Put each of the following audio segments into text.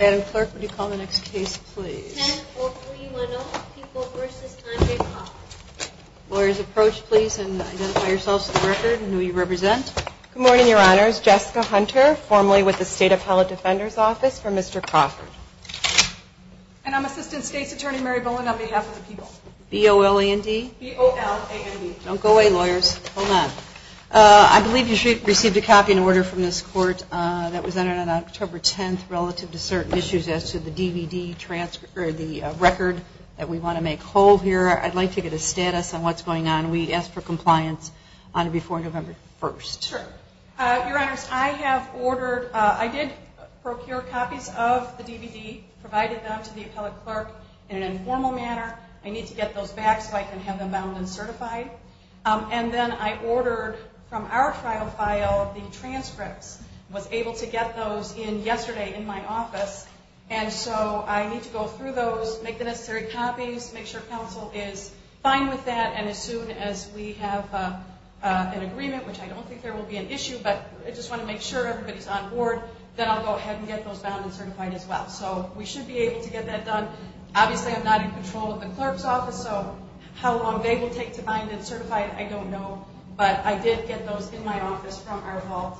Madam Clerk, would you call the next case, please? 104310, People v. Andre Crawford. Lawyers, approach, please, and identify yourselves for the record and who you represent. Good morning, Your Honors. Jessica Hunter, formally with the State Appellate Defender's Office for Mr. Crawford. And I'm Assistant State's Attorney Mary Bowen on behalf of the people. B-O-L-A-N-D? B-O-L-A-N-D. Don't go away, lawyers. Hold on. I believe you received a copy and order from this court that was entered on October 10th relative to certain issues as to the DVD transcript, or the record that we want to make whole here. I'd like to get a status on what's going on. We asked for compliance on it before November 1st. Sure. Your Honors, I have ordered, I did procure copies of the DVD, provided them to the appellate clerk in an informal manner. I need to get those back so I can have them bound and certified. And then I ordered from our trial file the transcripts, was able to get those in yesterday in my office. And so I need to go through those, make the necessary copies, make sure counsel is fine with that, and as soon as we have an agreement, which I don't think there will be an issue, but I just want to make sure everybody's on board, then I'll go ahead and get those bound and certified as well. So we should be able to get that done. Obviously I'm not in control of the clerk's office, so how long they will take to bind and certify, I don't know. But I did get those in my office from our vault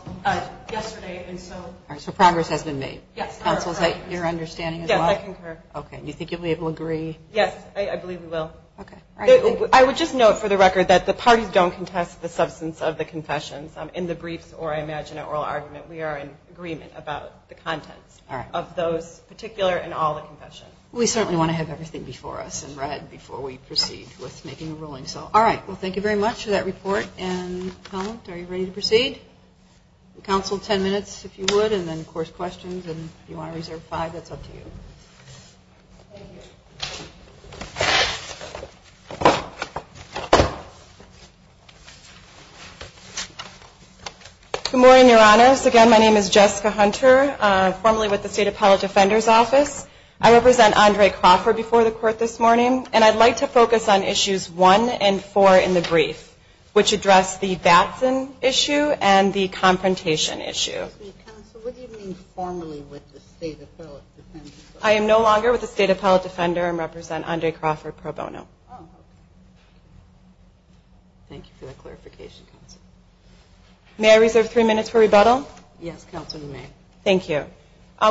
yesterday. So progress has been made? Yes. Counsel, is that your understanding as well? Yes, I concur. Okay. Do you think you'll be able to agree? Yes, I believe we will. I would just note for the record that the parties don't contest the substance of the confessions in the briefs or I imagine an oral argument, we are in agreement about the contents of those particular and all the confessions. We certainly want to have everything before us and read before we proceed with making a ruling. So all right, well thank you very much for that report and comment. Are you ready to proceed? Counsel, ten minutes if you would, and then of course questions. And if you want to reserve five, that's up to you. Thank you. Good morning, Your Honors. Again, my name is Jessica Hunter, formerly with the State Appellate Defender's Office. I represent Andre Crawford before the Court this morning, and I'd like to focus on issues one and four in the brief, which address the Batson issue and the confrontation issue. Counsel, what do you mean formally with the State Appellate Defender? I am no longer with the State Appellate Defender and represent Andre Crawford pro bono. Thank you for the clarification, Counsel. May I reserve three minutes for rebuttal? Yes, Counsel, you may. Thank you.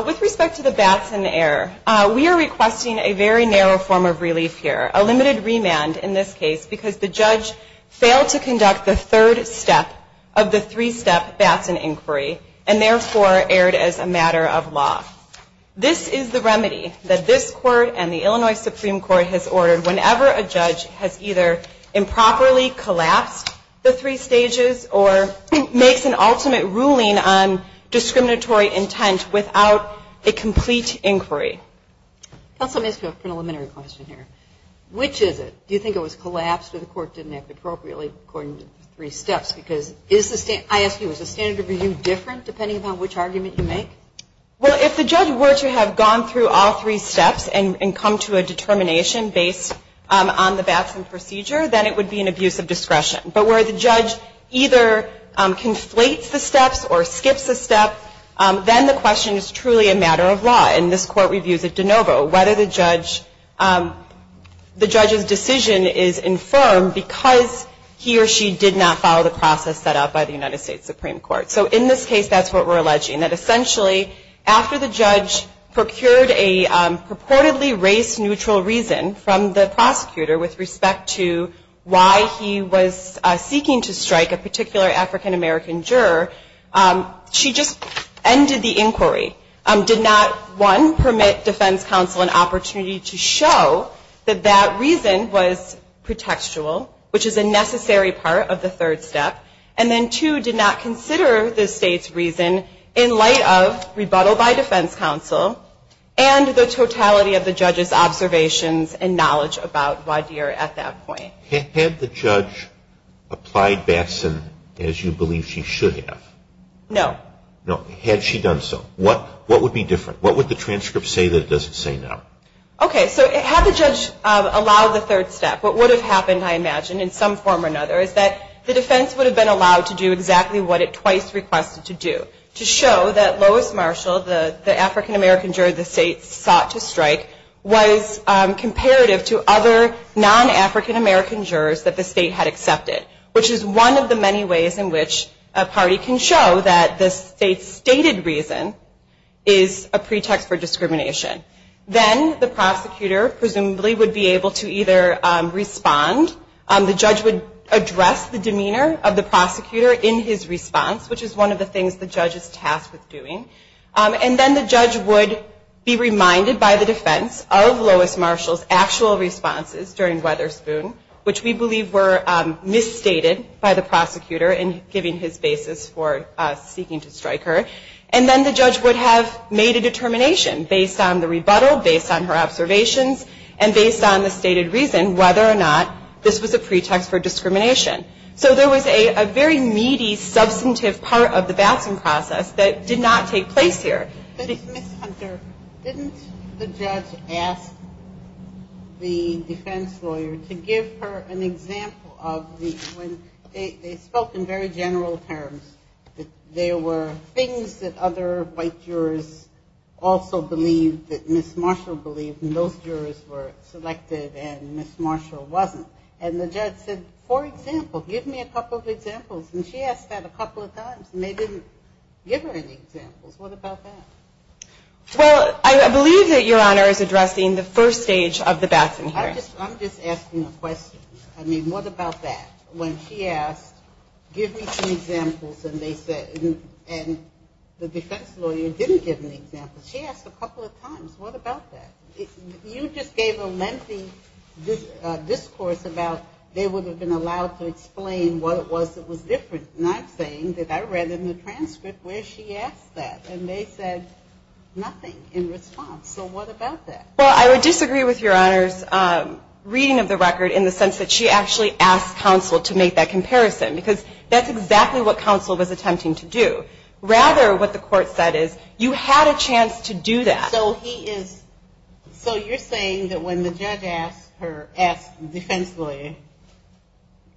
With respect to the Batson error, we are requesting a very narrow form of relief here, a limited remand in this case because the judge failed to conduct the third step of the three-step Batson inquiry, and therefore erred as a matter of law. This is the remedy that this Court and the Illinois Supreme Court has ordered whenever a judge has either improperly collapsed the three stages or makes an ultimate ruling on discriminatory intent without a complete inquiry. Counsel, let me ask you a preliminary question here. Which is it? Do you think it was collapsed or the Court didn't act appropriately according to the three steps? I ask you, is the standard of review different depending upon which argument you make? Well, if the judge were to have gone through all three steps and come to a determination based on the Batson procedure, then it would be an abuse of discretion. But where the judge either conflates the steps or skips a step, then the question is truly a matter of law, and this Court reviews it de novo, whether the judge's decision is infirm because he or she did not follow the process set out by the United States Supreme Court. So in this case, that's what we're alleging, that essentially after the judge procured a purportedly race-neutral reason from the prosecutor with respect to why he was seeking to strike a particular African-American juror, she just ended the inquiry, did not, one, permit defense counsel an opportunity to show that that reason was pretextual, which is a necessary part of the third step, and then two, did not consider the State's reason in light of rebuttal by defense counsel and the totality of the judge's observations and knowledge about Wadir at that point. Had the judge applied Batson as you believe she should have? No. No. Had she done so? Yes. What would be different? What would the transcript say that it doesn't say now? Okay, so had the judge allowed the third step, what would have happened, I imagine, in some form or another is that the defense would have been allowed to do exactly what it twice requested to do, to show that Lois Marshall, the African-American juror the State sought to strike, was comparative to other non-African-American jurors that the State had accepted, which is one of the many ways in which a party can show that the State's stated reason is a pretext for discrimination. Then the prosecutor presumably would be able to either respond, the judge would address the demeanor of the prosecutor in his response, which is one of the things the judge is tasked with doing, and then the judge would be reminded by the defense of Lois Marshall's actual responses during Weatherspoon, which we believe were misstated by the prosecutor in giving his basis for seeking to strike her, and then the judge would have made a determination based on the rebuttal, based on her observations, and based on the stated reason whether or not this was a pretext for discrimination. So there was a very meaty, substantive part of the Batson process that did not take place here. Ms. Hunter, didn't the judge ask the defense lawyer to give her an example of the, when they spoke in very general terms, that there were things that other white jurors also believed, that Ms. Marshall believed, and those jurors were selected and Ms. Marshall wasn't, and the judge said, for example, give me a couple of examples, and she asked that a couple of times, and they didn't give her any examples. What about that? Well, I believe that Your Honor is addressing the first stage of the Batson hearing. I'm just asking a question. I mean, what about that? When she asked, give me some examples, and they said, and the defense lawyer didn't give an example. She asked a couple of times. What about that? You just gave a lengthy discourse about they would have been allowed to explain what it was that was different, not saying that I read in the transcript where she asked that, and they said nothing in response. So what about that? Well, I would disagree with Your Honor's reading of the record in the sense that she actually asked counsel to make that comparison, because that's exactly what counsel was attempting to do. Rather, what the court said is, you had a chance to do that. So he is, so you're saying that when the judge asked her, asked the defense lawyer,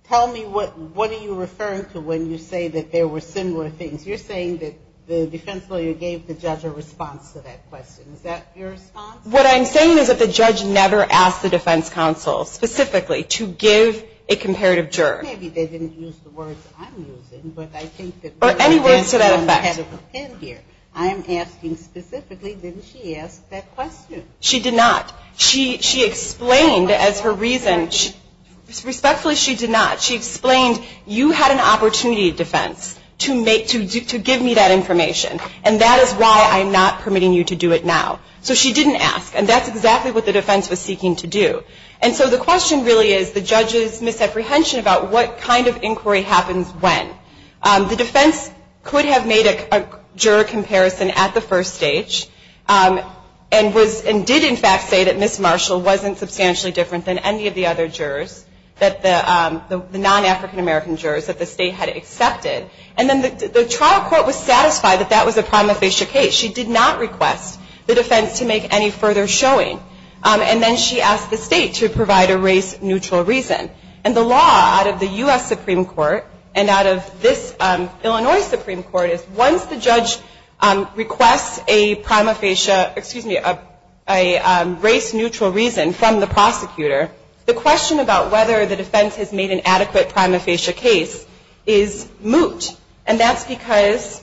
tell me what are you referring to when you say that there were similar things? You're saying that the defense lawyer gave the judge a response to that question. Is that your response? What I'm saying is that the judge never asked the defense counsel specifically to give a comparative juror. Maybe they didn't use the words I'm using, but I think that Or any words to that effect. I'm asking specifically, didn't she ask that question? She did not. She explained as her reason, respectfully, she did not. She explained, you had an opportunity, defense, to give me that information, and that is why I'm not permitting you to do it now. So she didn't ask, and that's exactly what the defense was seeking to do. And so the question really is the judge's misapprehension about what kind of inquiry happens when. The defense could have made a juror comparison at the first stage and did in fact say that Ms. Marshall wasn't substantially different than any of the other jurors, the non-African-American jurors that the state had accepted. And then the trial court was satisfied that that was a prima facie case. She did not request the defense to make any further showing. And then she asked the state to provide a race-neutral reason. And the law out of the U.S. Supreme Court and out of this Illinois Supreme Court is that once the judge requests a prima facie, excuse me, a race-neutral reason from the prosecutor, the question about whether the defense has made an adequate prima facie case is moot. And that's because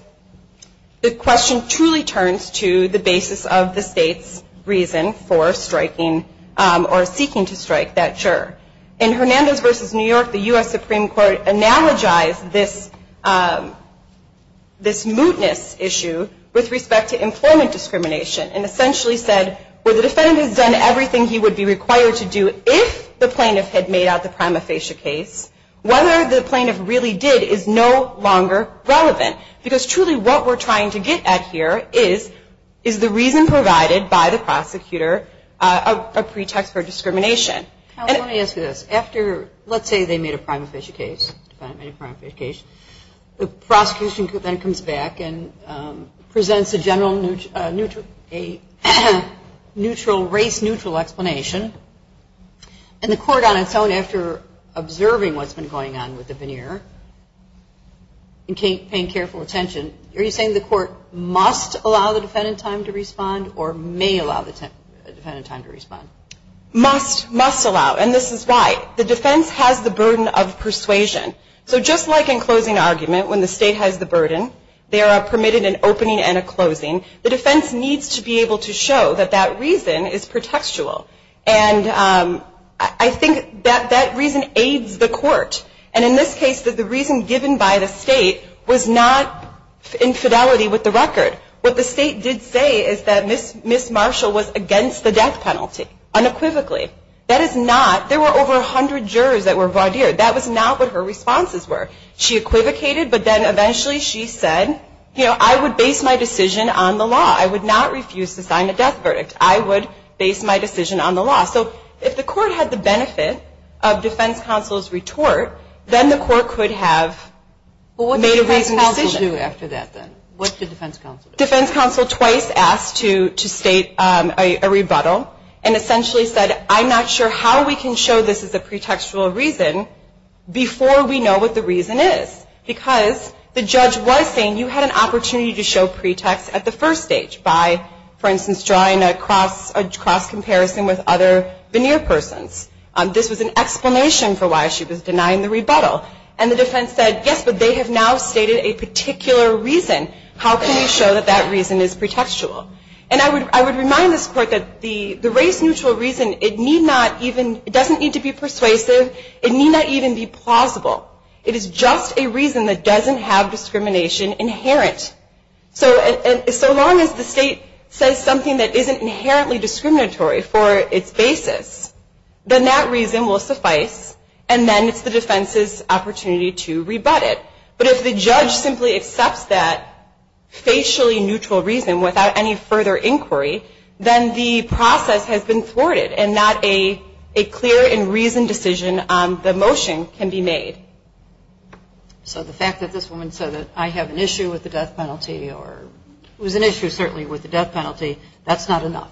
the question truly turns to the basis of the state's reason for striking or seeking to strike that juror. In Hernandez v. New York, the U.S. Supreme Court analogized this mootness issue with respect to employment discrimination and essentially said, well, the defendant has done everything he would be required to do if the plaintiff had made out the prima facie case, whether the plaintiff really did is no longer relevant. Because truly what we're trying to get at here is, is the reason provided by the prosecutor a pretext for discrimination. I want to ask you this. After, let's say, they made a prima facie case, defendant made a prima facie case, the prosecution then comes back and presents a general neutral, a neutral race-neutral explanation. And the court on its own, after observing what's been going on with the veneer and paying careful attention, are you saying the court must allow the defendant time to respond or may allow the defendant time to respond? Must, must allow. And this is why. The defense has the burden of persuasion. So just like in closing argument, when the state has the burden, they are permitted an opening and a closing, the defense needs to be able to show that that reason is pretextual. And I think that that reason aids the court. And in this case, the reason given by the state was not in fidelity with the record. What the state did say is that Ms. Marshall was against the death penalty, unequivocally. That is not, there were over 100 jurors that were voir dire. That was not what her responses were. She equivocated, but then eventually she said, you know, I would base my decision on the law. I would not refuse to sign a death verdict. I would base my decision on the law. So if the court had the benefit of defense counsel's retort, then the court could have made a reasoned decision. But what did defense counsel do after that then? What did defense counsel do? Defense counsel twice asked to state a rebuttal and essentially said, I'm not sure how we can show this is a pretextual reason before we know what the reason is. Because the judge was saying you had an opportunity to show pretext at the first stage by, for instance, drawing a cross comparison with other veneer persons. This was an explanation for why she was denying the rebuttal. And the defense said, yes, but they have now stated a particular reason. How can we show that that reason is pretextual? And I would remind this court that the race-neutral reason, it need not even, it doesn't need to be persuasive. It need not even be plausible. It is just a reason that doesn't have discrimination inherent. So long as the state says something that isn't inherently discriminatory for its basis, then that reason will suffice, and then it's the defense's opportunity to rebut it. But if the judge simply accepts that facially neutral reason without any further inquiry, then the process has been thwarted and not a clear and reasoned decision on the motion can be made. So the fact that this woman said that I have an issue with the death penalty, or it was an issue certainly with the death penalty, that's not enough?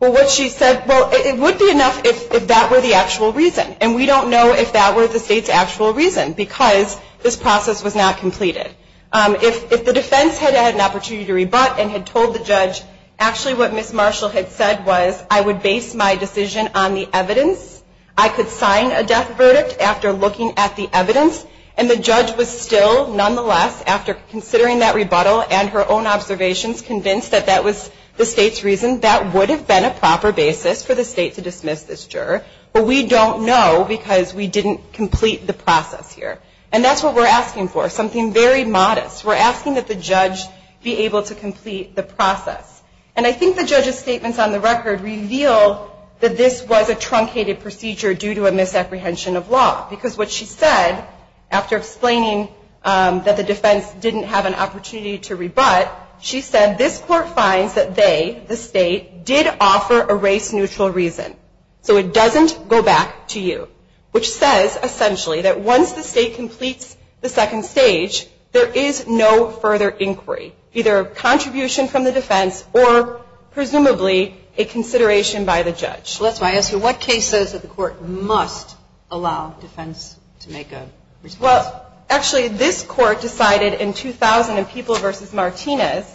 Well, what she said, well, it would be enough if that were the actual reason. And we don't know if that were the state's actual reason, because this process was not completed. If the defense had had an opportunity to rebut and had told the judge, actually what Ms. Marshall had said was I would base my decision on the evidence, I could sign a death verdict after looking at the evidence, and the judge was still, nonetheless, after considering that rebuttal and her own observations, convinced that that was the state's reason, that would have been a proper basis for the state to dismiss this juror, but we don't know because we didn't complete the process here. And that's what we're asking for, something very modest. We're asking that the judge be able to complete the process. And I think the judge's statements on the record reveal that this was a truncated procedure due to a misapprehension of law, because what she said after explaining that the defense didn't have an opportunity to rebut, she said this court finds that they, the state, did offer a race-neutral reason. So it doesn't go back to you, which says essentially that once the state completes the second stage, there is no further inquiry, either contribution from the defense or presumably a consideration by the judge. So that's why I ask you, what case says that the court must allow defense to make a response? Well, actually, this court decided in 2000 in People v. Martinez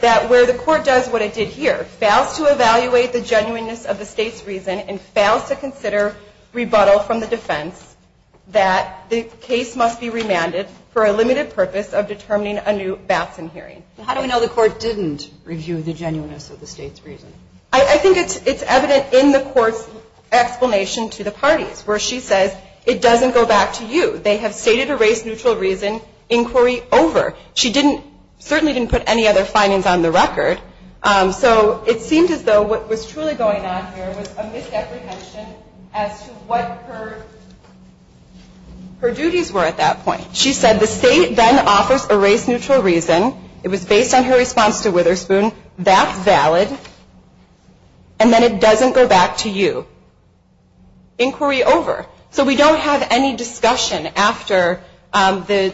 that where the court does what it did here, fails to evaluate the genuineness of the state's reason and fails to consider rebuttal from the defense, that the case must be remanded for a limited purpose of determining a new Batson hearing. How do we know the court didn't review the genuineness of the state's reason? I think it's evident in the court's explanation to the parties, where she says it doesn't go back to you. They have stated a race-neutral reason inquiry over. She certainly didn't put any other findings on the record. So it seemed as though what was truly going on here was a misapprehension as to what her duties were at that point. She said the state then offers a race-neutral reason. It was based on her response to Witherspoon. That's valid. And then it doesn't go back to you. Inquiry over. So we don't have any discussion after the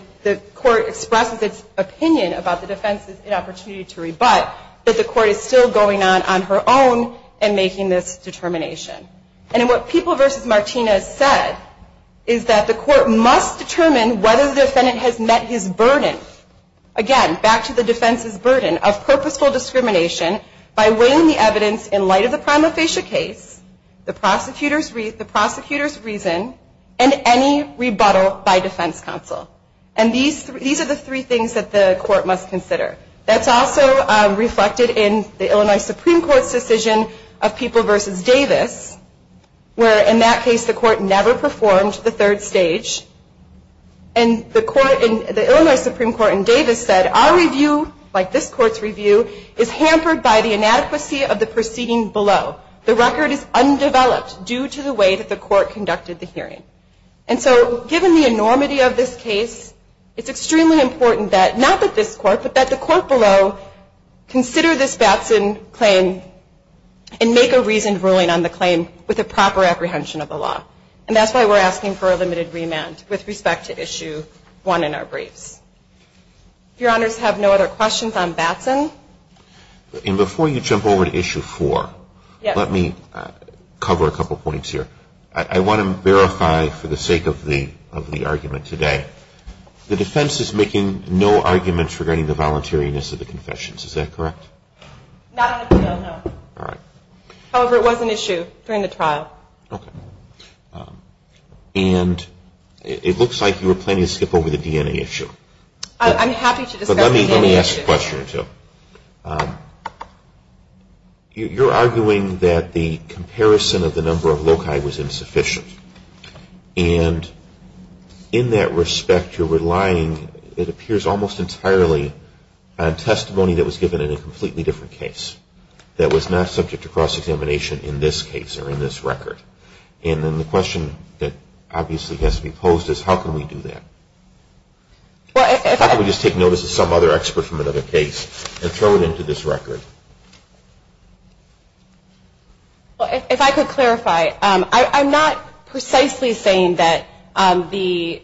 court expresses its opinion about the defense's inopportunity to rebut, that the court is still going on on her own and making this determination. And what People v. Martinez said is that the court must determine whether the defendant has met his burden. Again, back to the defense's burden of purposeful discrimination by weighing the evidence in light of the prima facie case, the prosecutor's reason, and any rebuttal by defense counsel. And these are the three things that the court must consider. That's also reflected in the Illinois Supreme Court's decision of People v. Davis, where in that case the court never performed the third stage. And the Illinois Supreme Court in Davis said, our review, like this court's review, is hampered by the inadequacy of the proceeding below. The record is undeveloped due to the way that the court conducted the hearing. And so given the enormity of this case, it's extremely important that not just this court, but that the court below consider this Batson claim and make a reasoned ruling on the claim with a proper apprehension of the law. And that's why we're asking for a limited remand with respect to Issue 1 in our briefs. If Your Honors have no other questions on Batson. And before you jump over to Issue 4, let me cover a couple points here. I want to verify for the sake of the argument today, the defense is making no arguments regarding the voluntariness of the confessions, is that correct? Not on appeal, no. However, it was an issue during the trial. And it looks like you were planning to skip over the DNA issue. I'm happy to discuss the DNA issue. But let me ask a question or two. You're arguing that the comparison of the number of loci was insufficient. And in that respect, you're relying, it appears almost entirely, on testimony that was given in a completely different case. That was not subject to cross-examination in this case or in this record. And then the question that obviously has to be posed is, how can we do that? How can we just take notice of some other expert from another case and throw it into this record? If I could clarify, I'm not precisely saying that the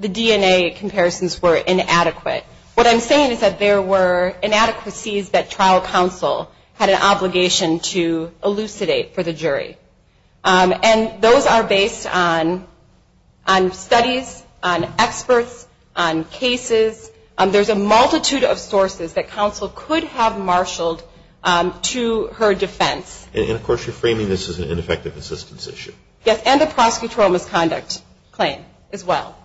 DNA comparisons were inadequate. What I'm saying is that there were inadequacies that trial counsel had an obligation to elucidate for the jury. And those are based on studies, on experts, on cases. There's a multitude of sources that counsel could have marshaled to her defense. And of course you're framing this as an ineffective assistance issue. Yes, and a prosecutorial misconduct claim as well.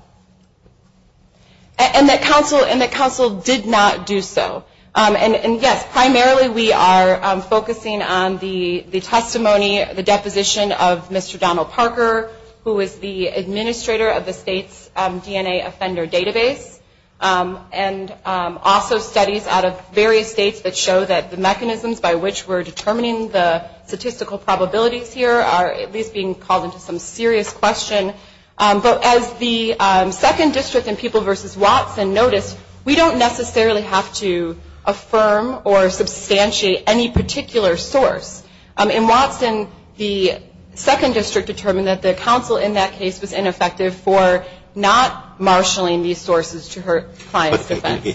And that counsel did not do so. And yes, primarily we are focusing on the testimony, the deposition of Mr. Donald Parker, who is the administrator of the state's DNA offender database. And also studies out of various states that show that the mechanisms by which we're determining the statistical probabilities here are at least being called into some serious question. But as the second district in People v. Watson noticed, we don't necessarily have to affirm or substantiate any particular source. In Watson, the second district determined that the counsel in that case was ineffective for not marshaling these sources to her client's defense.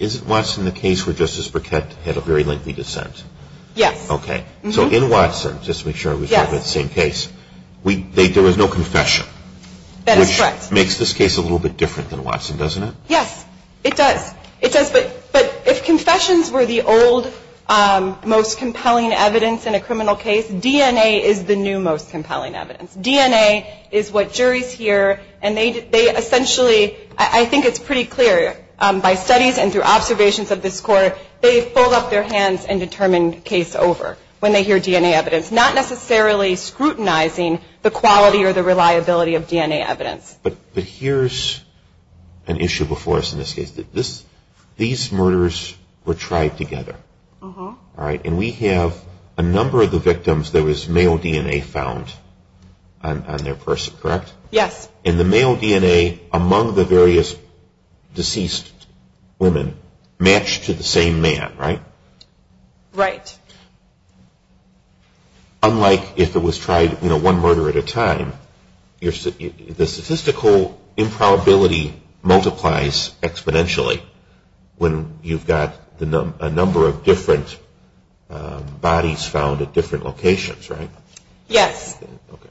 Isn't Watson the case where Justice Burkett had a very lengthy dissent? Yes. Okay, so in Watson, just to make sure we're talking about the same case, there was no confession. That is correct. Which makes this case a little bit different than Watson, doesn't it? Yes, it does. It does, but if confessions were the old, most compelling evidence in a criminal case, DNA is the new, most compelling evidence. DNA is what juries hear, and they essentially, I think it's pretty clear, by studies and through observations of this court, they fold up their hands and determine case over when they hear DNA evidence, not necessarily scrutinizing the quality or the reliability of DNA evidence. But here's an issue before us in this case. These murders were tried together, all right? And we have a number of the victims, there was male DNA found on their person, correct? Yes. And the male DNA among the various deceased women matched to the same man, right? Right. Unlike if it was tried one murder at a time, the statistical improbability multiplies exponentially when you've got a number of different bodies found at different locations, right? Yes.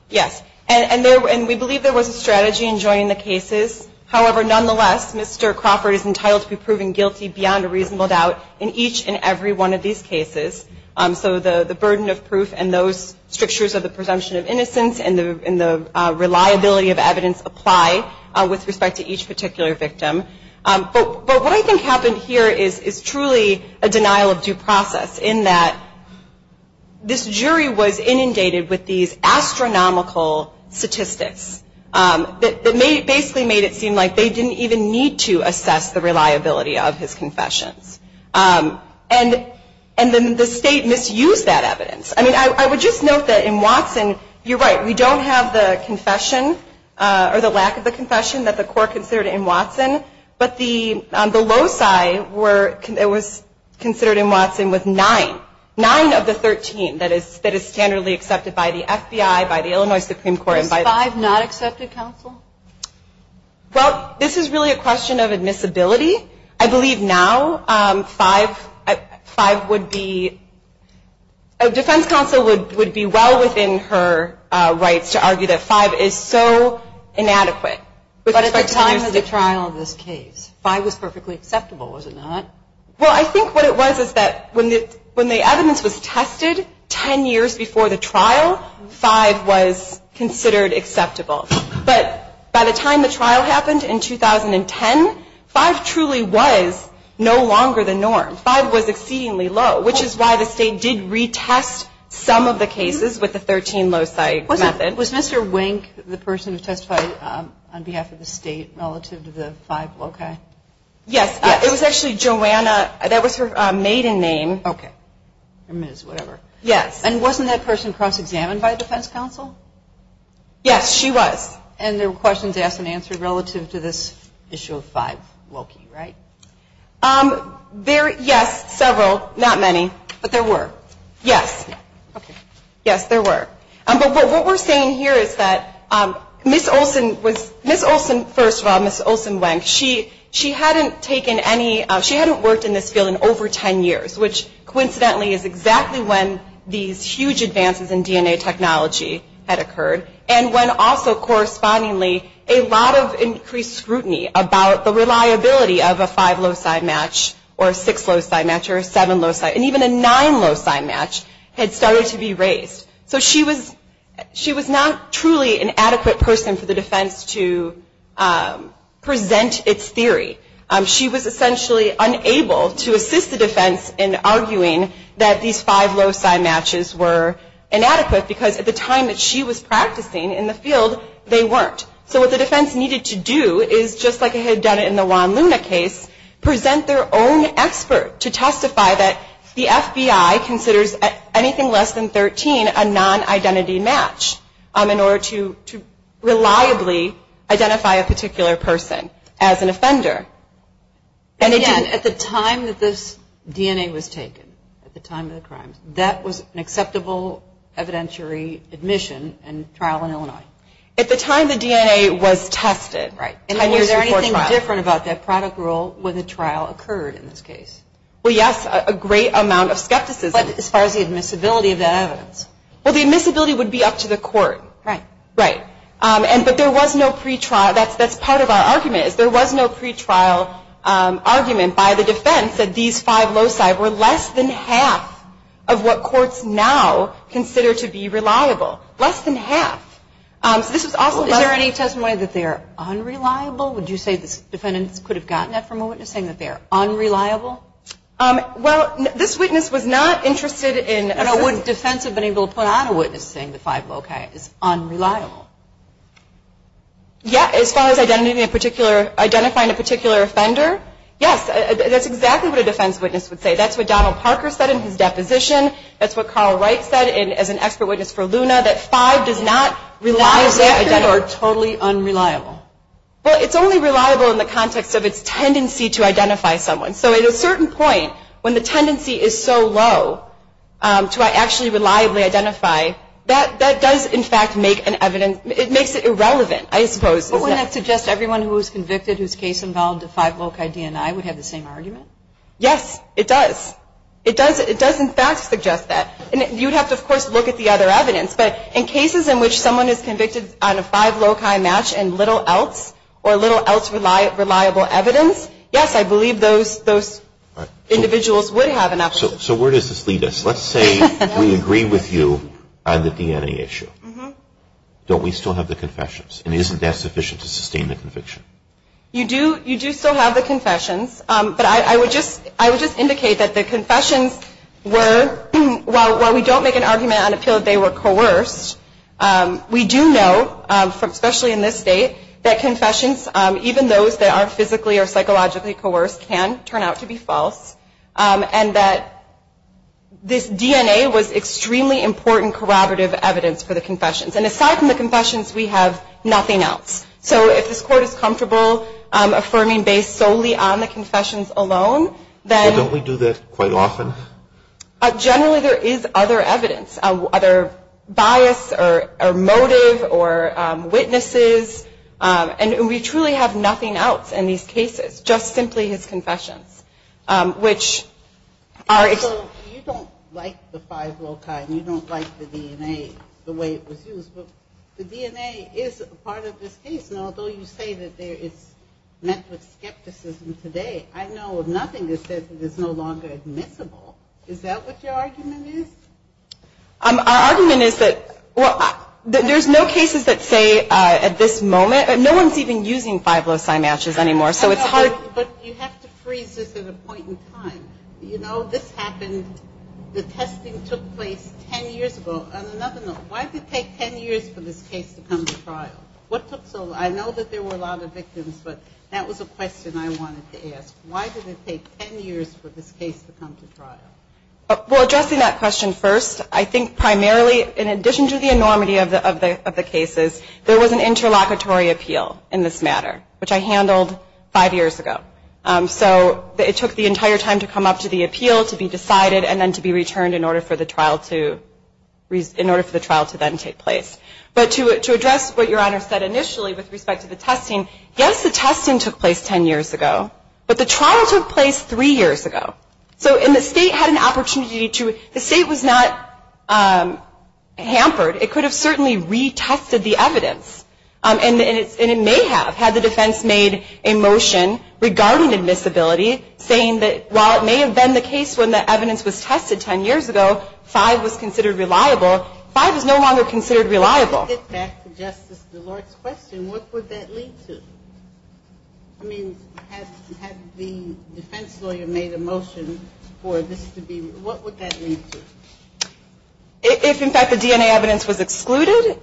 Yes. And we believe there was a strategy in joining the cases. However, nonetheless, Mr. Crawford is entitled to be proven guilty beyond a reasonable doubt in each and every one of these cases. So the burden of proof and those strictures of the presumption of innocence and the reliability of evidence apply with respect to each particular victim. But what I think happened here is truly a denial of due process, in that this jury was inundated with these astronomical statistics that basically made it seem like they didn't even need to assess the reliability of his confessions. And then the state misused that evidence. I mean, I would just note that in Watson, you're right, we don't have the confession or the lack of the confession that the court considered in Watson, but the loci were considered in Watson with nine. Nine of the 13 that is standardly accepted by the FBI, by the Illinois Supreme Court. Was five not accepted, counsel? Well, this is really a question of admissibility. I believe now five would be – a defense counsel would be well within her rights to argue that five is so inadequate. But at the time of the trial of this case, five was perfectly acceptable, was it not? Well, I think what it was is that when the evidence was tested ten years before the trial, five was considered acceptable. But by the time the trial happened in 2010, five truly was no longer the norm. Five was exceedingly low, which is why the state did retest some of the cases with the 13 loci method. Was Mr. Wink the person who testified on behalf of the state relative to the five loci? Yes. It was actually Joanna. That was her maiden name. Okay. Or Ms., whatever. Yes. And wasn't that person cross-examined by a defense counsel? Yes, she was. And there were questions asked and answered relative to this issue of five loci, right? Yes, several, not many. But there were? Yes. Okay. Yes, there were. But what we're saying here is that Ms. Olsen was, Ms. Olsen, first of all, Ms. Olsen Wink, she hadn't taken any, she hadn't worked in this field in over ten years, which coincidentally is exactly when these huge advances in DNA technology had occurred and when also correspondingly a lot of increased scrutiny about the reliability of a five loci match or a six loci match or a seven loci, and even a nine loci match had started to be raised. So she was not truly an adequate person for the defense to present its theory. She was essentially unable to assist the defense in arguing that these five loci matches were inadequate because at the time that she was practicing in the field, they weren't. So what the defense needed to do is, just like it had done in the Juan Luna case, present their own expert to testify that the FBI considers anything less than 13 a non-identity match in order to reliably identify a particular person as an offender. And again, at the time that this DNA was taken, at the time of the crimes, that was an acceptable evidentiary admission and trial in Illinois. At the time the DNA was tested. Right. Is there anything different about that product rule when the trial occurred in this case? Well, yes. A great amount of skepticism. But as far as the admissibility of that evidence? Well, the admissibility would be up to the court. Right. Right. But there was no pretrial. That's part of our argument is there was no pretrial argument by the defense that these five loci were less than half of what courts now consider to be reliable. Less than half. Is there any testimony that they are unreliable? Would you say the defendants could have gotten that from a witness, saying that they are unreliable? Well, this witness was not interested in... No, no. Would a defense have been able to put on a witness saying the five loci is unreliable? Yeah, as far as identifying a particular offender, yes. That's exactly what a defense witness would say. That's what Donald Parker said in his deposition. That's what Carl Wright said as an expert witness for LUNA. That five does not reliably identify... That is totally unreliable. Well, it's only reliable in the context of its tendency to identify someone. So at a certain point, when the tendency is so low to actually reliably identify, that does, in fact, make an evidence... It makes it irrelevant, I suppose. But wouldn't that suggest everyone who was convicted, whose case involved the five loci DNI, would have the same argument? Yes, it does. It does, in fact, suggest that. And you'd have to, of course, look at the other evidence. But in cases in which someone is convicted on a five loci match and little else, or little else reliable evidence, yes, I believe those individuals would have an opposition. So where does this lead us? Let's say we agree with you on the DNA issue. Don't we still have the confessions? And isn't that sufficient to sustain the conviction? You do still have the confessions. But I would just indicate that the confessions were, while we don't make an argument on the appeal that they were coerced, we do know, especially in this state, that confessions, even those that aren't physically or psychologically coerced, can turn out to be false, and that this DNA was extremely important corroborative evidence for the confessions. And aside from the confessions, we have nothing else. So if this Court is comfortable affirming based solely on the confessions alone, then... So don't we do this quite often? Generally, there is other evidence, other bias or motive or witnesses. And we truly have nothing else in these cases, just simply his confessions, which are... So you don't like the five loci, and you don't like the DNA, the way it was used. But the DNA is a part of this case. And although you say that it's met with skepticism today, I know nothing that says that it's no longer admissible. Is that what your argument is? Our argument is that there's no cases that say at this moment... No one's even using five loci matches anymore, so it's hard. But you have to freeze this at a point in time. You know, this happened... The testing took place ten years ago. On another note, why did it take ten years for this case to come to trial? What took so long? I know that there were a lot of victims, but that was a question I wanted to ask. Why did it take ten years for this case to come to trial? Well, addressing that question first, I think primarily, in addition to the enormity of the cases, there was an interlocutory appeal in this matter, which I handled five years ago. So it took the entire time to come up to the appeal, to be decided, and then to be returned in order for the trial to then take place. But to address what Your Honor said initially with respect to the testing, yes, the testing took place ten years ago, but the trial took place three years ago. So the State had an opportunity to... The State was not hampered. It could have certainly retested the evidence, and it may have had the defense made a motion regarding admissibility, saying that while it may have been the case when the evidence was tested ten years ago, five was considered reliable, five is no longer considered reliable. To get back to Justice DeLort's question, what would that lead to? I mean, had the defense lawyer made a motion for this to be... What would that lead to? If, in fact, the DNA evidence was excluded,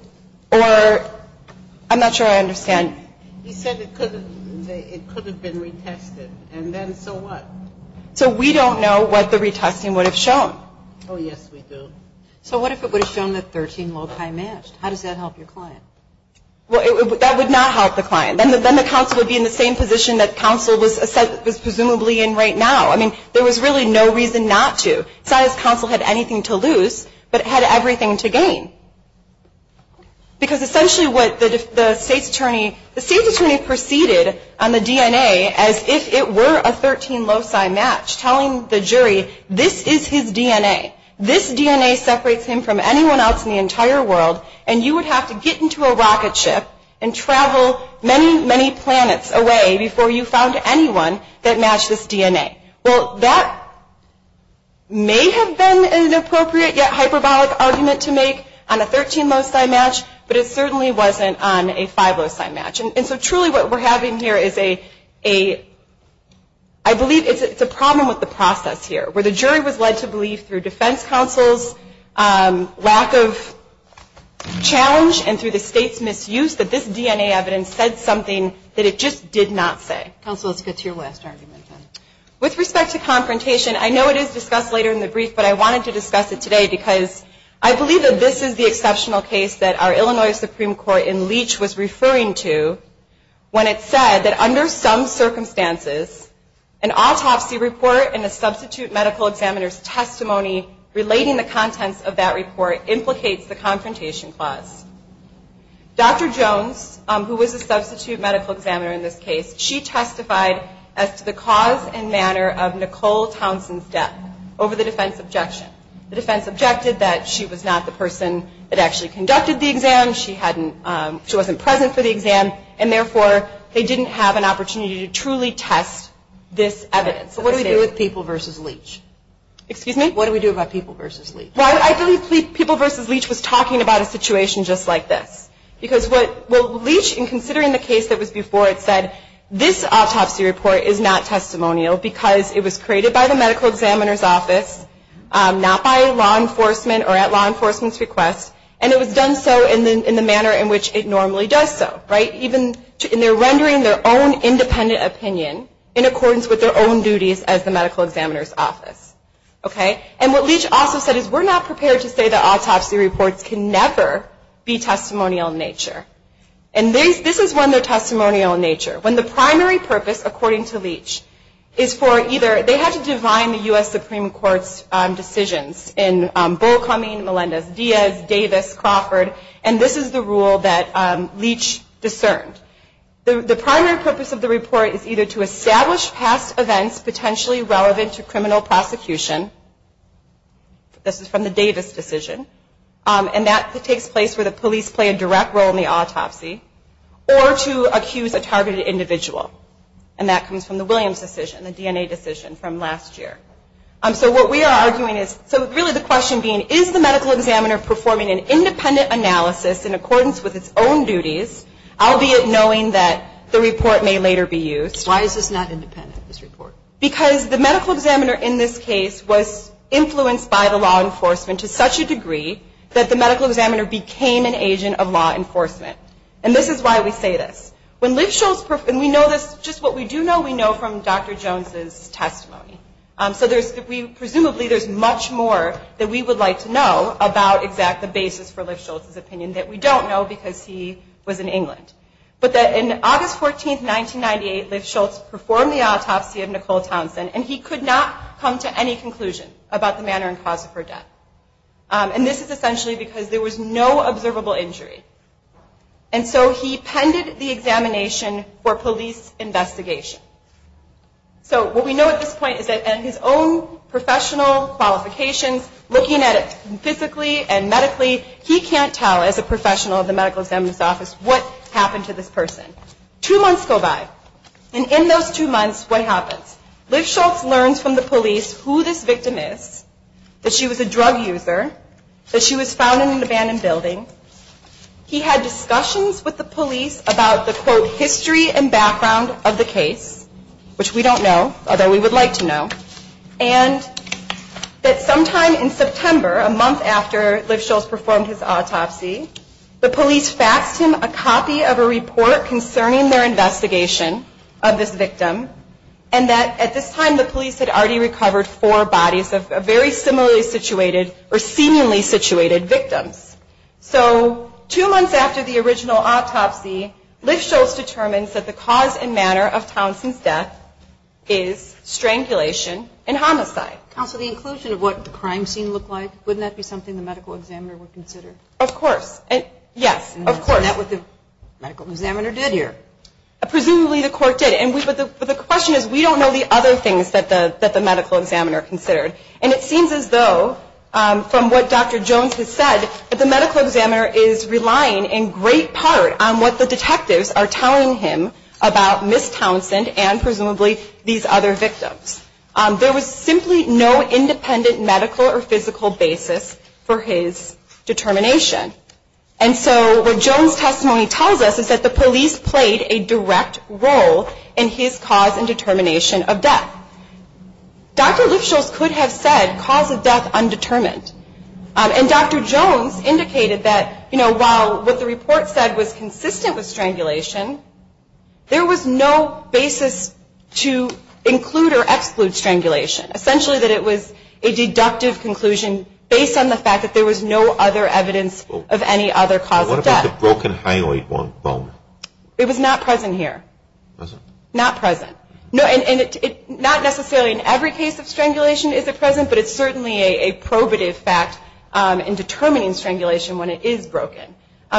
or... I'm not sure I understand. He said it could have been retested, and then so what? So we don't know what the retesting would have shown. Oh, yes, we do. So what if it would have shown that 13 loci matched? How does that help your client? Well, that would not help the client. Then the counsel would be in the same position that counsel was presumably in right now. I mean, there was really no reason not to. Because essentially what the state's attorney... The state's attorney proceeded on the DNA as if it were a 13 loci match, telling the jury this is his DNA. This DNA separates him from anyone else in the entire world, and you would have to get into a rocket ship and travel many, many planets away before you found anyone that matched this DNA. Well, that may have been an appropriate yet hyperbolic argument to make on a 13 loci match, but it certainly wasn't on a 5 loci match. And so truly what we're having here is a... I believe it's a problem with the process here, where the jury was led to believe through defense counsel's lack of challenge and through the state's misuse that this DNA evidence said something that it just did not say. Counsel, let's get to your last argument then. With respect to confrontation, I know it is discussed later in the brief, but I wanted to discuss it today because I believe that this is the exceptional case that our Illinois Supreme Court in Leach was referring to when it said that under some circumstances an autopsy report and a substitute medical examiner's testimony relating the contents of that report implicates the confrontation clause. Dr. Jones, who was a substitute medical examiner in this case, she testified as to the cause and manner of Nicole Townsend's death over the defense objection. The defense objected that she was not the person that actually conducted the exam, she wasn't present for the exam, and therefore they didn't have an opportunity to truly test this evidence. So what do we do with People v. Leach? Excuse me? What do we do about People v. Leach? Well, I believe People v. Leach was talking about a situation just like this. Because what Leach, in considering the case that was before it, said this autopsy report is not testimonial because it was created by the medical examiner's office, not by law enforcement or at law enforcement's request, and it was done so in the manner in which it normally does so, right? And they're rendering their own independent opinion in accordance with their own duties as the medical examiner's office. And what Leach also said is we're not prepared to say that autopsy reports can never be testimonial in nature. And this is when they're testimonial in nature. When the primary purpose, according to Leach, is for either, they had to define the U.S. Supreme Court's decisions in Bullcoming, Melendez-Diaz, Davis, Crawford, and this is the rule that Leach discerned. The primary purpose of the report is either to establish past events potentially relevant to criminal prosecution, this is from the Davis decision, and that takes place where the police play a direct role in the autopsy, or to accuse a targeted individual, and that comes from the Williams decision, the DNA decision from last year. So what we are arguing is, so really the question being, is the medical examiner performing an independent analysis in accordance with its own duties, albeit knowing that the report may later be used? Why is this not independent, this report? Because the medical examiner in this case was influenced by the law enforcement to such a degree that the medical examiner became an agent of law enforcement. And this is why we say this. When Lifshultz, and we know this, just what we do know, we know from Dr. Jones's testimony. So there's, presumably there's much more that we would like to know about exactly the basis for Lifshultz's opinion that we don't know because he was in England. But that in August 14, 1998, Lifshultz performed the autopsy of Nicole Townsend, and he could not come to any conclusion about the manner and cause of her death. And this is essentially because there was no observable injury. And so he pended the examination for police investigation. So what we know at this point is that in his own professional qualifications, looking at it physically and medically, he can't tell as a professional of the medical examiner's office what happened to this person. Two months go by. And in those two months, what happens? Lifshultz learns from the police who this victim is, that she was a drug user, that she was found in an abandoned building. He had discussions with the police about the, quote, history and background of the case, which we don't know, although we would like to know. And that sometime in September, a month after Lifshultz performed his autopsy, the police faxed him a copy of a report concerning their investigation of this victim, and that at this time the police had already recovered four bodies of very similarly situated or seemingly situated victims. So two months after the original autopsy, Lifshultz determines that the cause Counsel, the inclusion of what the crime scene looked like, wouldn't that be something the medical examiner would consider? Of course. Yes, of course. Isn't that what the medical examiner did here? Presumably the court did. But the question is, we don't know the other things that the medical examiner considered. And it seems as though, from what Dr. Jones has said, that the medical examiner is relying in great part on what the detectives are telling him about Ms. Townsend and presumably these other victims. There was simply no independent medical or physical basis for his determination. And so what Jones' testimony tells us is that the police played a direct role in his cause and determination of death. Dr. Lifshultz could have said, cause of death undetermined. And Dr. Jones indicated that, you know, while what the report said was consistent with strangulation, there was no basis to include or exclude strangulation. Essentially that it was a deductive conclusion based on the fact that there was no other evidence of any other cause of death. What about the broken hyoid bone? It was not present here. Was it? Not present. And not necessarily in every case of strangulation is it present, but it's certainly a probative fact in determining strangulation when it is broken.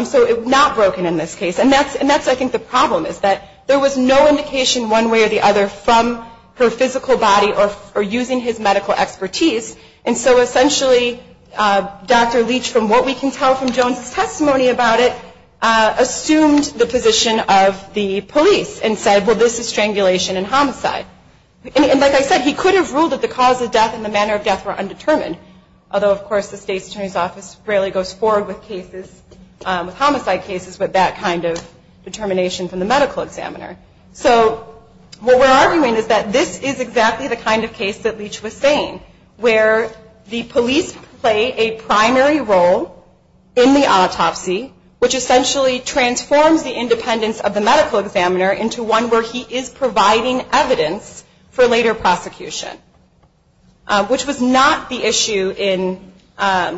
So not broken in this case. And that's I think the problem is that there was no indication one way or the other from her physical body or using his medical expertise. And so essentially Dr. Leach, from what we can tell from Jones' testimony about it, assumed the position of the police and said, well, this is strangulation and homicide. And like I said, he could have ruled that the cause of death and the manner of death were undetermined, although of course the State's Attorney's Office rarely goes forward with homicide cases with that kind of determination from the medical examiner. So what we're arguing is that this is exactly the kind of case that Leach was saying, where the police play a primary role in the autopsy, which essentially transforms the independence of the medical examiner into one where he is providing evidence for later prosecution, which was not the issue in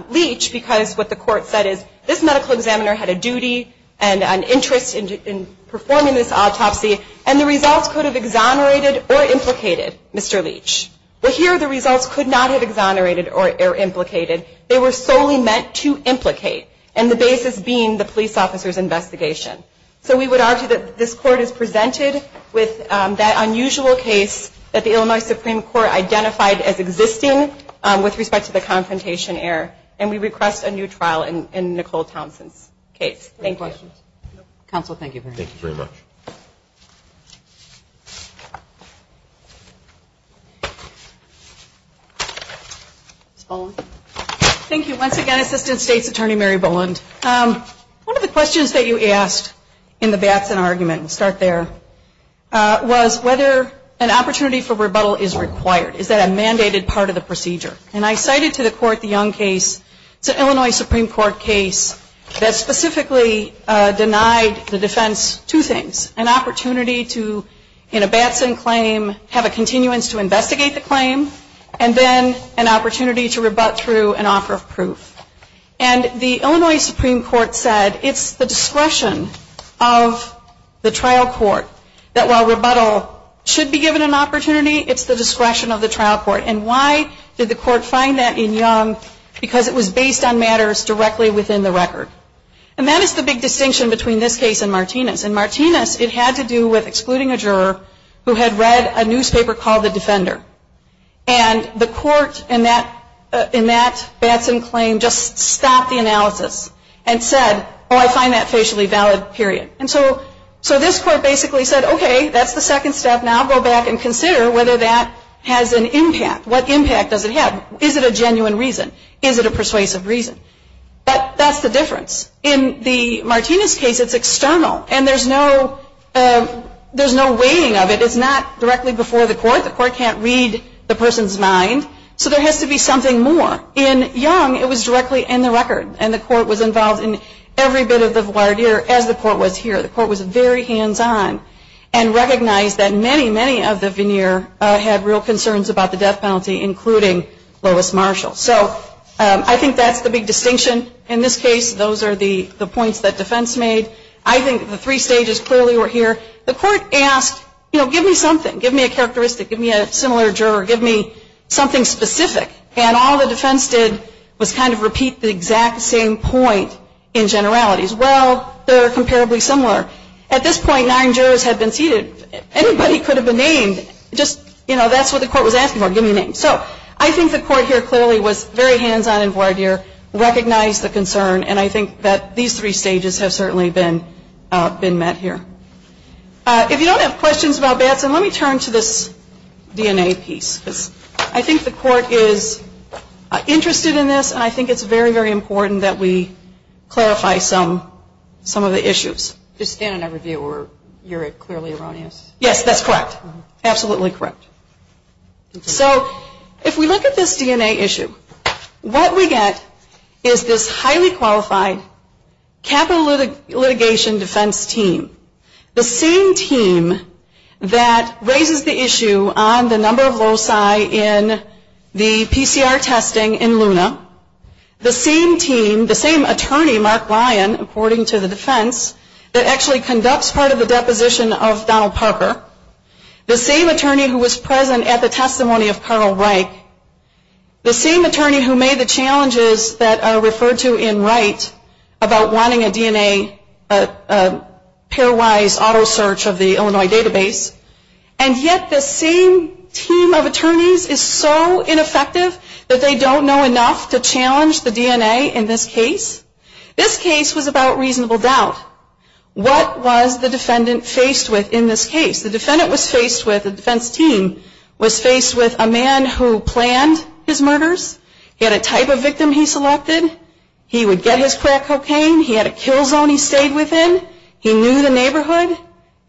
Leach because what the court said is, this medical examiner had a duty and an interest in performing this autopsy and the results could have exonerated or implicated Mr. Leach. But here the results could not have exonerated or implicated. They were solely meant to implicate and the basis being the police officer's investigation. So we would argue that this court is presented with that unusual case that the Illinois Supreme Court identified as existing with respect to the confrontation error and we request a new trial in Nicole Townsend's case. Thank you. Counsel, thank you very much. Thank you very much. Ms. Boland. Thank you. Once again, Assistant State's Attorney Mary Boland. One of the questions that you asked in the Batson argument, we'll start there, was whether an opportunity for rebuttal is required. Is that a mandated part of the procedure? And I cited to the court the Young case. It's an Illinois Supreme Court case that specifically denied the defense two things, an opportunity to, in a Batson claim, have a continuance to investigate the claim and then an opportunity to rebut through an offer of proof. And the Illinois Supreme Court said it's the discretion of the trial court that while rebuttal should be given an opportunity, it's the discretion of the trial court. And why did the court find that in Young? Because it was based on matters directly within the record. And that is the big distinction between this case and Martinez. In Martinez, it had to do with excluding a juror who had read a newspaper called The Defender. And the court in that Batson claim just stopped the analysis and said, oh, I find that facially valid, period. And so this court basically said, okay, that's the second step. Now go back and consider whether that has an impact. What impact does it have? Is it a genuine reason? Is it a persuasive reason? That's the difference. In the Martinez case, it's external. And there's no weighing of it. It's not directly before the court. The court can't read the person's mind. So there has to be something more. In Young, it was directly in the record. And the court was involved in every bit of the voir dire as the court was here. The court was very hands-on and recognized that many, many of the veneer had real concerns about the death penalty, including Lois Marshall. So I think that's the big distinction in this case. Those are the points that defense made. I think the three stages clearly were here. The court asked, you know, give me something. Give me a characteristic. Give me a similar juror. Give me something specific. And all the defense did was kind of repeat the exact same point in generalities. Well, they're comparably similar. At this point, nine jurors had been seated. Anybody could have been named. Just, you know, that's what the court was asking for, give me a name. So I think the court here clearly was very hands-on and voir dire, recognized the concern, and I think that these three stages have certainly been met here. If you don't have questions about Batson, let me turn to this DNA piece. I think the court is interested in this, and I think it's very, very important that we clarify some of the issues. Just stand in a review where you're clearly erroneous. Yes, that's correct. Absolutely correct. So if we look at this DNA issue, what we get is this highly qualified capital litigation defense team, the same team that raises the issue on the number of loci in the PCR testing in Luna, the same team, the same attorney, Mark Ryan, according to the defense, that actually conducts part of the deposition of Donald Parker, the same attorney who was present at the testimony of Colonel Reich, the same attorney who made the challenges that are referred to in Wright about wanting a DNA pair-wise auto search of the Illinois database, and yet the same team of attorneys is so ineffective that they don't know enough to challenge the DNA in this case. This case was about reasonable doubt. What was the defendant faced with in this case? The defendant was faced with, the defense team was faced with a man who planned his murders. He had a type of victim he selected. He would get his crack cocaine. He had a kill zone he stayed within. He knew the neighborhood.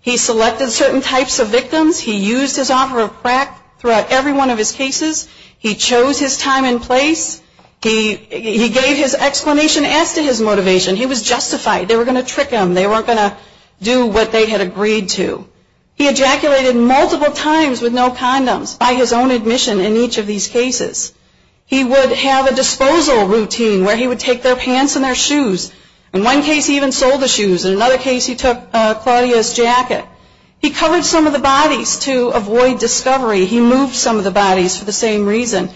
He selected certain types of victims. He used his offer of crack throughout every one of his cases. He chose his time and place. He gave his explanation as to his motivation. He was justified. They were going to trick him. They weren't going to do what they had agreed to. He ejaculated multiple times with no condoms by his own admission in each of these cases. He would have a disposal routine where he would take their pants and their shoes. In one case, he even sold the shoes. In another case, he took Claudia's jacket. He covered some of the bodies to avoid discovery. He moved some of the bodies for the same reason.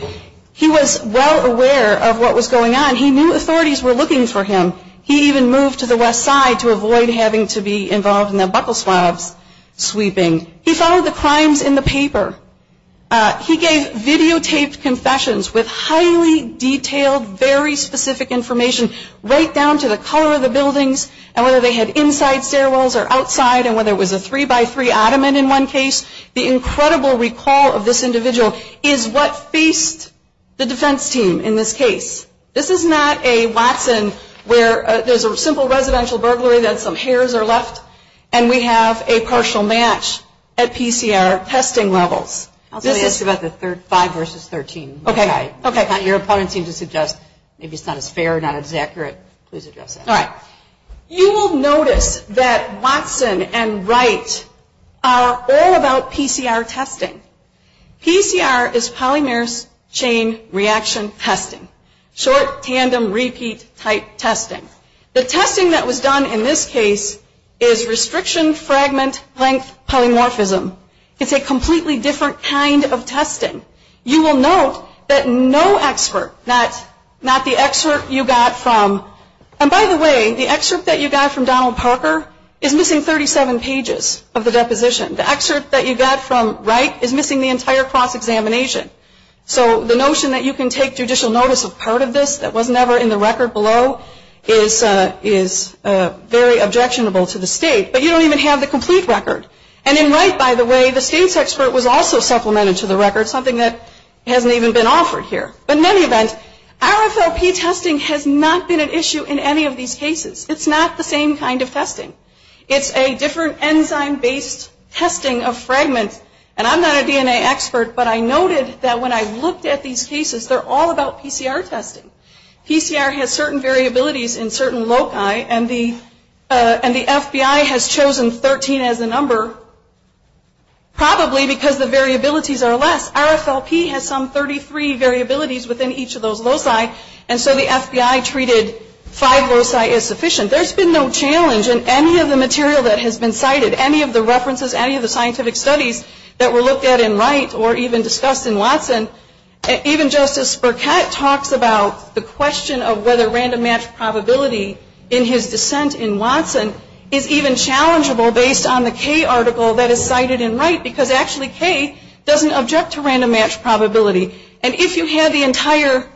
He was well aware of what was going on. He knew authorities were looking for him. He even moved to the west side to avoid having to be involved in the buckleswabs sweeping. He followed the crimes in the paper. He gave videotaped confessions with highly detailed, very specific information, right down to the color of the buildings and whether they had inside stairwells or outside and whether it was a three-by-three ottoman in one case. The incredible recall of this individual is what faced the defense team in this case. This is not a Watson where there's a simple residential burglary, then some hairs are left, and we have a partial match at PCR testing levels. I was going to ask about the five versus 13. Okay. Your opponents seem to suggest maybe it's not as fair, not as accurate. Please address that. All right. You will notice that Watson and Wright are all about PCR testing. PCR is polymerase chain reaction testing, short tandem repeat type testing. The testing that was done in this case is restriction fragment length polymorphism. It's a completely different kind of testing. You will note that no expert, not the excerpt you got from, and by the way, the excerpt that you got from Donald Parker is missing 37 pages of the deposition. The excerpt that you got from Wright is missing the entire cross-examination. So the notion that you can take judicial notice of part of this that was never in the record below is very objectionable to the state, but you don't even have the complete record. And in Wright, by the way, the state's expert was also supplemented to the record, something that hasn't even been offered here. But in any event, RFLP testing has not been an issue in any of these cases. It's not the same kind of testing. It's a different enzyme-based testing of fragments, and I'm not a DNA expert, but I noted that when I looked at these cases, they're all about PCR testing. PCR has certain variabilities in certain loci, and the FBI has chosen 13 as the number, probably because the variabilities are less. RFLP has some 33 variabilities within each of those loci, and so the FBI treated five loci as sufficient. There's been no challenge in any of the material that has been cited, any of the references, any of the scientific studies that were looked at in Wright or even discussed in Watson. Even Justice Burkett talks about the question of whether random match probability in his dissent in Watson is even challengeable based on the K article that is cited in Wright, because actually K doesn't object to random match probability. And if you had the entire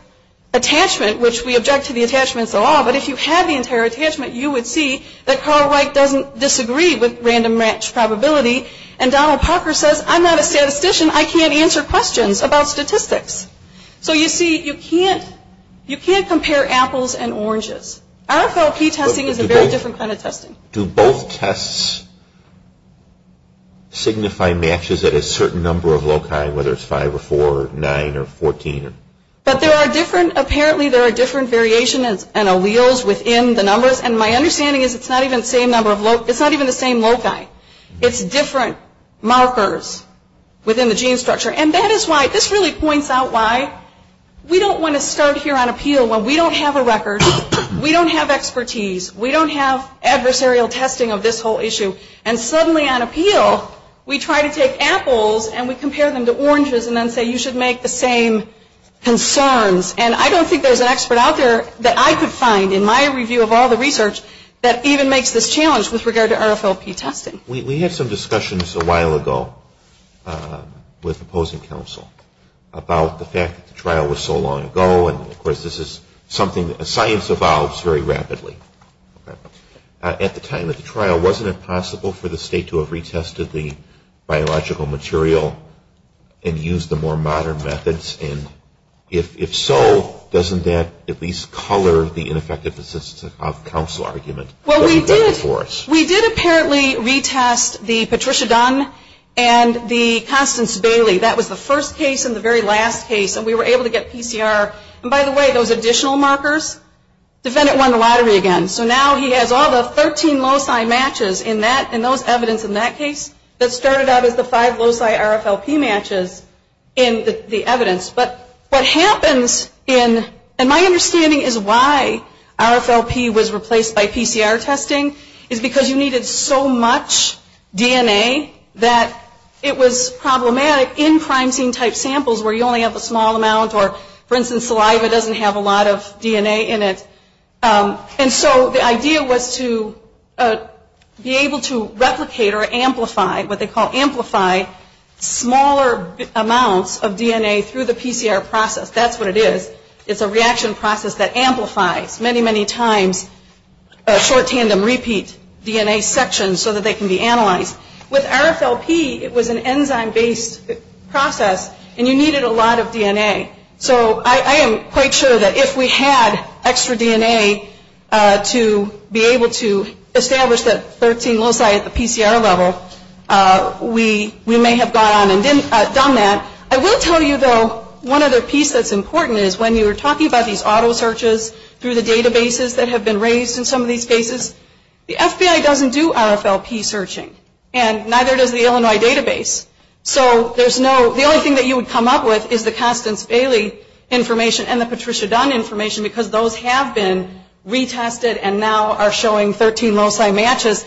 attachment, which we object to the attachments of law, but if you had the entire attachment, you would see that Carl Wright doesn't disagree with random match probability, and Donald Parker says, I'm not a statistician. I can't answer questions about statistics. So you see, you can't compare apples and oranges. RFLP testing is a very different kind of testing. Do both tests signify matches at a certain number of loci, whether it's 5 or 4 or 9 or 14? But there are different, apparently there are different variations and alleles within the numbers, and my understanding is it's not even the same number of loci, it's not even the same loci. It's different markers within the gene structure. And that is why, this really points out why we don't want to start here on appeal when we don't have a record, we don't have expertise, we don't have adversarial testing of this whole issue, and suddenly on appeal we try to take apples and we compare them to oranges and then say you should make the same concerns. And I don't think there's an expert out there that I could find in my review of all the research that even makes this challenge with regard to RFLP testing. We had some discussions a while ago with opposing counsel about the fact that the trial was so long ago, and of course this is something that science evolves very rapidly. At the time of the trial, wasn't it possible for the state to have retested the biological material and used the more modern methods? And if so, doesn't that at least color the ineffective assistance of counsel argument? Well, we did apparently retest the Patricia Dunn and the Constance Bailey. That was the first case and the very last case, and we were able to get PCR. And by the way, those additional markers, the defendant won the lottery again. So now he has all the 13 loci matches in those evidence in that case that started out as the five loci RFLP matches in the evidence. But what happens in, and my understanding is why RFLP was replaced by PCR testing, is because you needed so much DNA that it was problematic in prime scene type samples where you only have a small amount or, for instance, saliva doesn't have a lot of DNA in it. And so the idea was to be able to replicate or amplify, what they call amplify, smaller amounts of DNA through the PCR process. That's what it is. It's a reaction process that amplifies many, many times short tandem repeat DNA sections so that they can be analyzed. With RFLP, it was an enzyme-based process, and you needed a lot of DNA. So I am quite sure that if we had extra DNA to be able to establish that 13 loci at the PCR level, we may have gone on and done that. I will tell you, though, one other piece that's important is when you were talking about these auto searches through the databases that have been raised in some of these cases, the FBI doesn't do RFLP searching, and neither does the Illinois database. So the only thing that you would come up with is the Constance Bailey information and the Patricia Dunn information because those have been retested and now are showing 13 loci matches.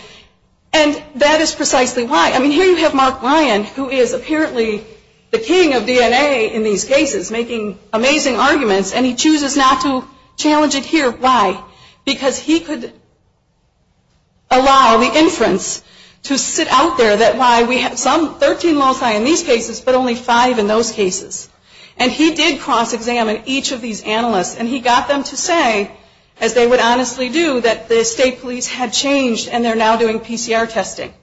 And that is precisely why. I mean, here you have Mark Ryan, who is apparently the king of DNA in these cases, making amazing arguments, and he chooses not to challenge it here. Why? Because he could allow the inference to sit out there that why we have some 13 loci in these cases, but only five in those cases. And he did cross-examine each of these analysts, and he got them to say, as they would honestly do, that the state police had changed and they're now doing PCR testing.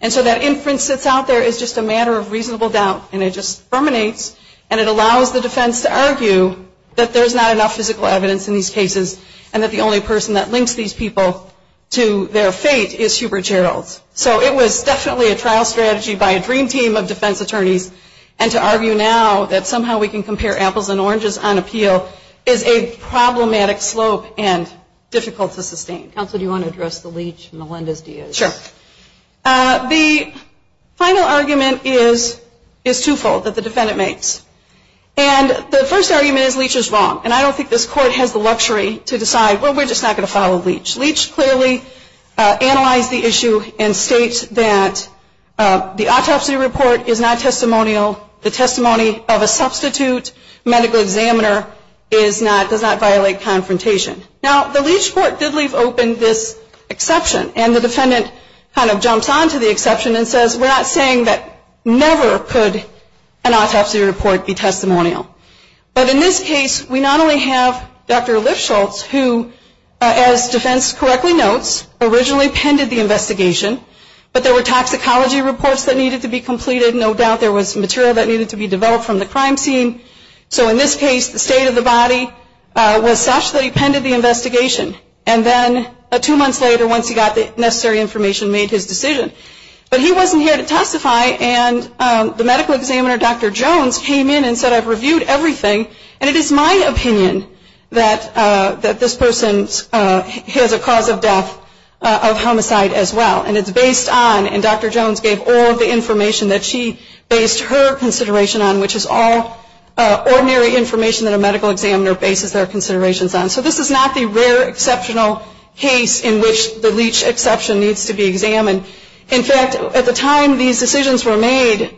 And so that inference sits out there as just a matter of reasonable doubt, and it just permanates, and it allows the defense to argue that there's not enough physical evidence in these cases and that the only person that links these people to their fate is Hubert Geralds. So it was definitely a trial strategy by a dream team of defense attorneys, and to argue now that somehow we can compare apples and oranges on appeal is a problematic slope and difficult to sustain. Counsel, do you want to address the Leach and Melendez-Diaz? Sure. The final argument is twofold that the defendant makes. And the first argument is Leach is wrong, and I don't think this Court has the luxury to decide, well, we're just not going to follow Leach. Leach clearly analyzed the issue and states that the autopsy report is not testimonial. The testimony of a substitute medical examiner does not violate confrontation. Now, the Leach Court did leave open this exception, and the defendant kind of jumps onto the exception and says, we're not saying that never could an autopsy report be testimonial. But in this case, we not only have Dr. Lifshultz, who, as defense correctly notes, originally penned the investigation, but there were toxicology reports that needed to be completed. No doubt there was material that needed to be developed from the crime scene. So in this case, the state of the body was such that he penned the investigation. And then two months later, once he got the necessary information, made his decision. But he wasn't here to testify, and the medical examiner, Dr. Jones, came in and said, I've reviewed everything, and it is my opinion that this person has a cause of death of homicide as well. And it's based on, and Dr. Jones gave all of the information that she based her consideration on, which is all ordinary information that a medical examiner bases their considerations on. So this is not the rare exceptional case in which the Leach exception needs to be examined. In fact, at the time these decisions were made,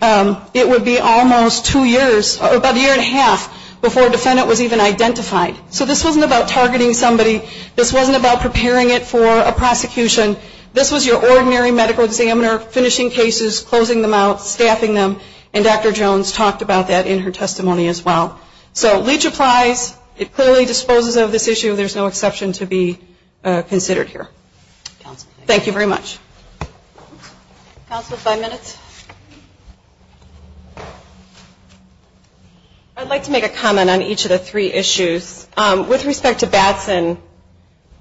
it would be almost two years, about a year and a half before a defendant was even identified. So this wasn't about targeting somebody. This wasn't about preparing it for a prosecution. This was your ordinary medical examiner finishing cases, closing them out, staffing them. And Dr. Jones talked about that in her testimony as well. So Leach applies. It clearly disposes of this issue. There's no exception to be considered here. Thank you very much. Counsel, five minutes. I'd like to make a comment on each of the three issues. With respect to Batson,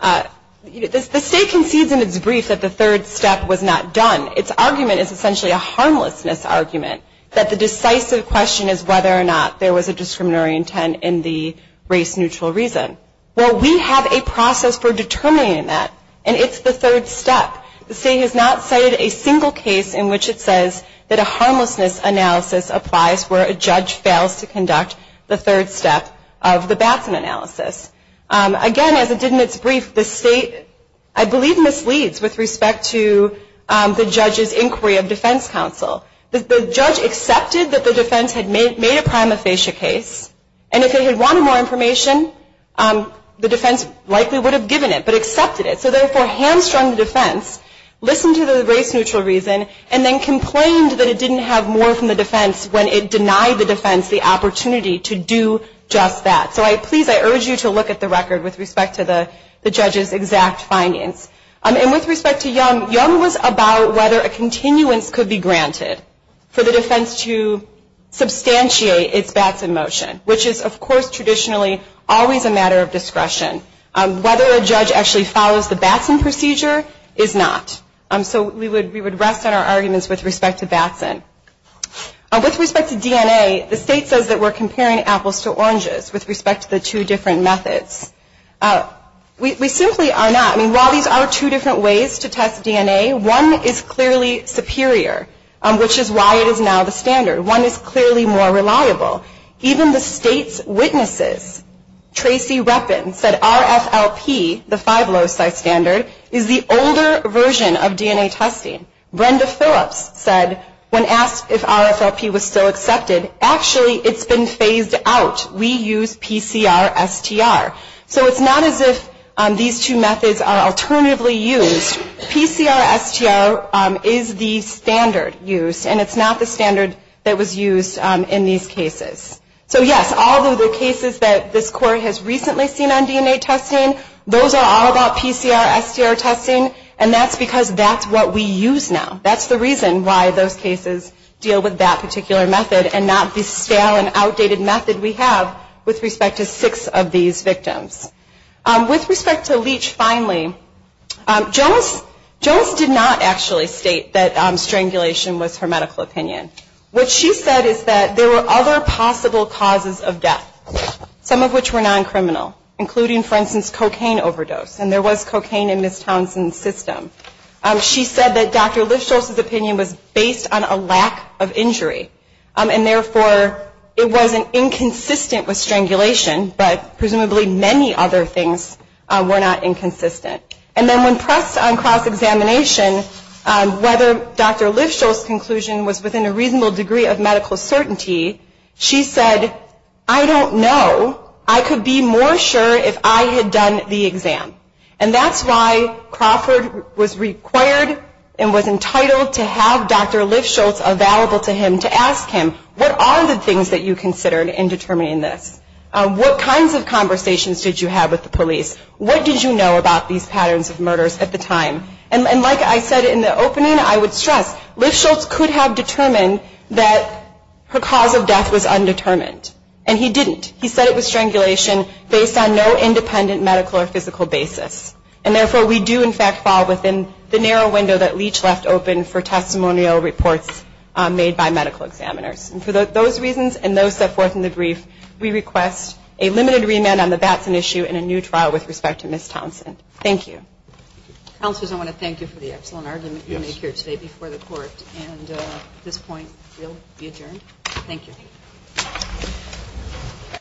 the state concedes in its brief that the third step was not done. Its argument is essentially a harmlessness argument, that the decisive question is whether or not there was a discriminatory intent in the race-neutral reason. Well, we have a process for determining that, and it's the third step. The state has not cited a single case in which it says that a harmlessness analysis applies where a judge fails to conduct the third step of the Batson analysis. Again, as it did in its brief, the state, I believe, misleads with respect to the judge's inquiry of defense counsel. The judge accepted that the defense had made a prima facie case, and if it had wanted more information, the defense likely would have given it, but accepted it. So therefore, hamstrung the defense, listened to the race-neutral reason, and then complained that it didn't have more from the defense when it denied the defense the opportunity to do just that. So please, I urge you to look at the record with respect to the judge's exact findings. And with respect to Young, Young was about whether a continuance could be granted for the defense to substantiate its Batson motion, which is, of course, traditionally always a matter of discretion. Whether a judge actually follows the Batson procedure is not. With respect to DNA, the state says that we're comparing apples to oranges with respect to the two different methods. We simply are not. I mean, while these are two different ways to test DNA, one is clearly superior, which is why it is now the standard. One is clearly more reliable. Even the state's witnesses, Tracy Reppin, said RFLP, the five loci standard, is the older version of DNA testing. Brenda Phillips said, when asked if RFLP was still accepted, actually it's been phased out. We use PCR-STR. So it's not as if these two methods are alternatively used. PCR-STR is the standard used, and it's not the standard that was used in these cases. So, yes, all of the cases that this Court has recently seen on DNA testing, those are all about PCR-STR testing, and that's because that's what we use now. That's the reason why those cases deal with that particular method and not the stale and outdated method we have with respect to six of these victims. With respect to Leach, finally, Jonas did not actually state that strangulation was her medical opinion. What she said is that there were other possible causes of death, some of which were non-criminal, including, for instance, cocaine overdose. And there was cocaine in Ms. Townsend's system. She said that Dr. Lifsholz's opinion was based on a lack of injury, and therefore it wasn't inconsistent with strangulation, but presumably many other things were not inconsistent. And then when pressed on cross-examination, whether Dr. Lifsholz's conclusion was within a reasonable degree of medical certainty, she said, I don't know. I could be more sure if I had done the exam. And that's why Crawford was required and was entitled to have Dr. Lifsholz available to him to ask him, what are the things that you considered in determining this? What kinds of conversations did you have with the police? What did you know about these patterns of murders at the time? And like I said in the opening, I would stress, that her cause of death was undetermined. And he didn't. He said it was strangulation based on no independent medical or physical basis. And therefore, we do, in fact, fall within the narrow window that Leach left open for testimonial reports made by medical examiners. And for those reasons and those set forth in the brief, we request a limited remand on the Batson issue and a new trial with respect to Ms. Townsend. Thank you. Counselors, I want to thank you for the excellent argument you made here today before the court, and at this point we'll be adjourned. Thank you.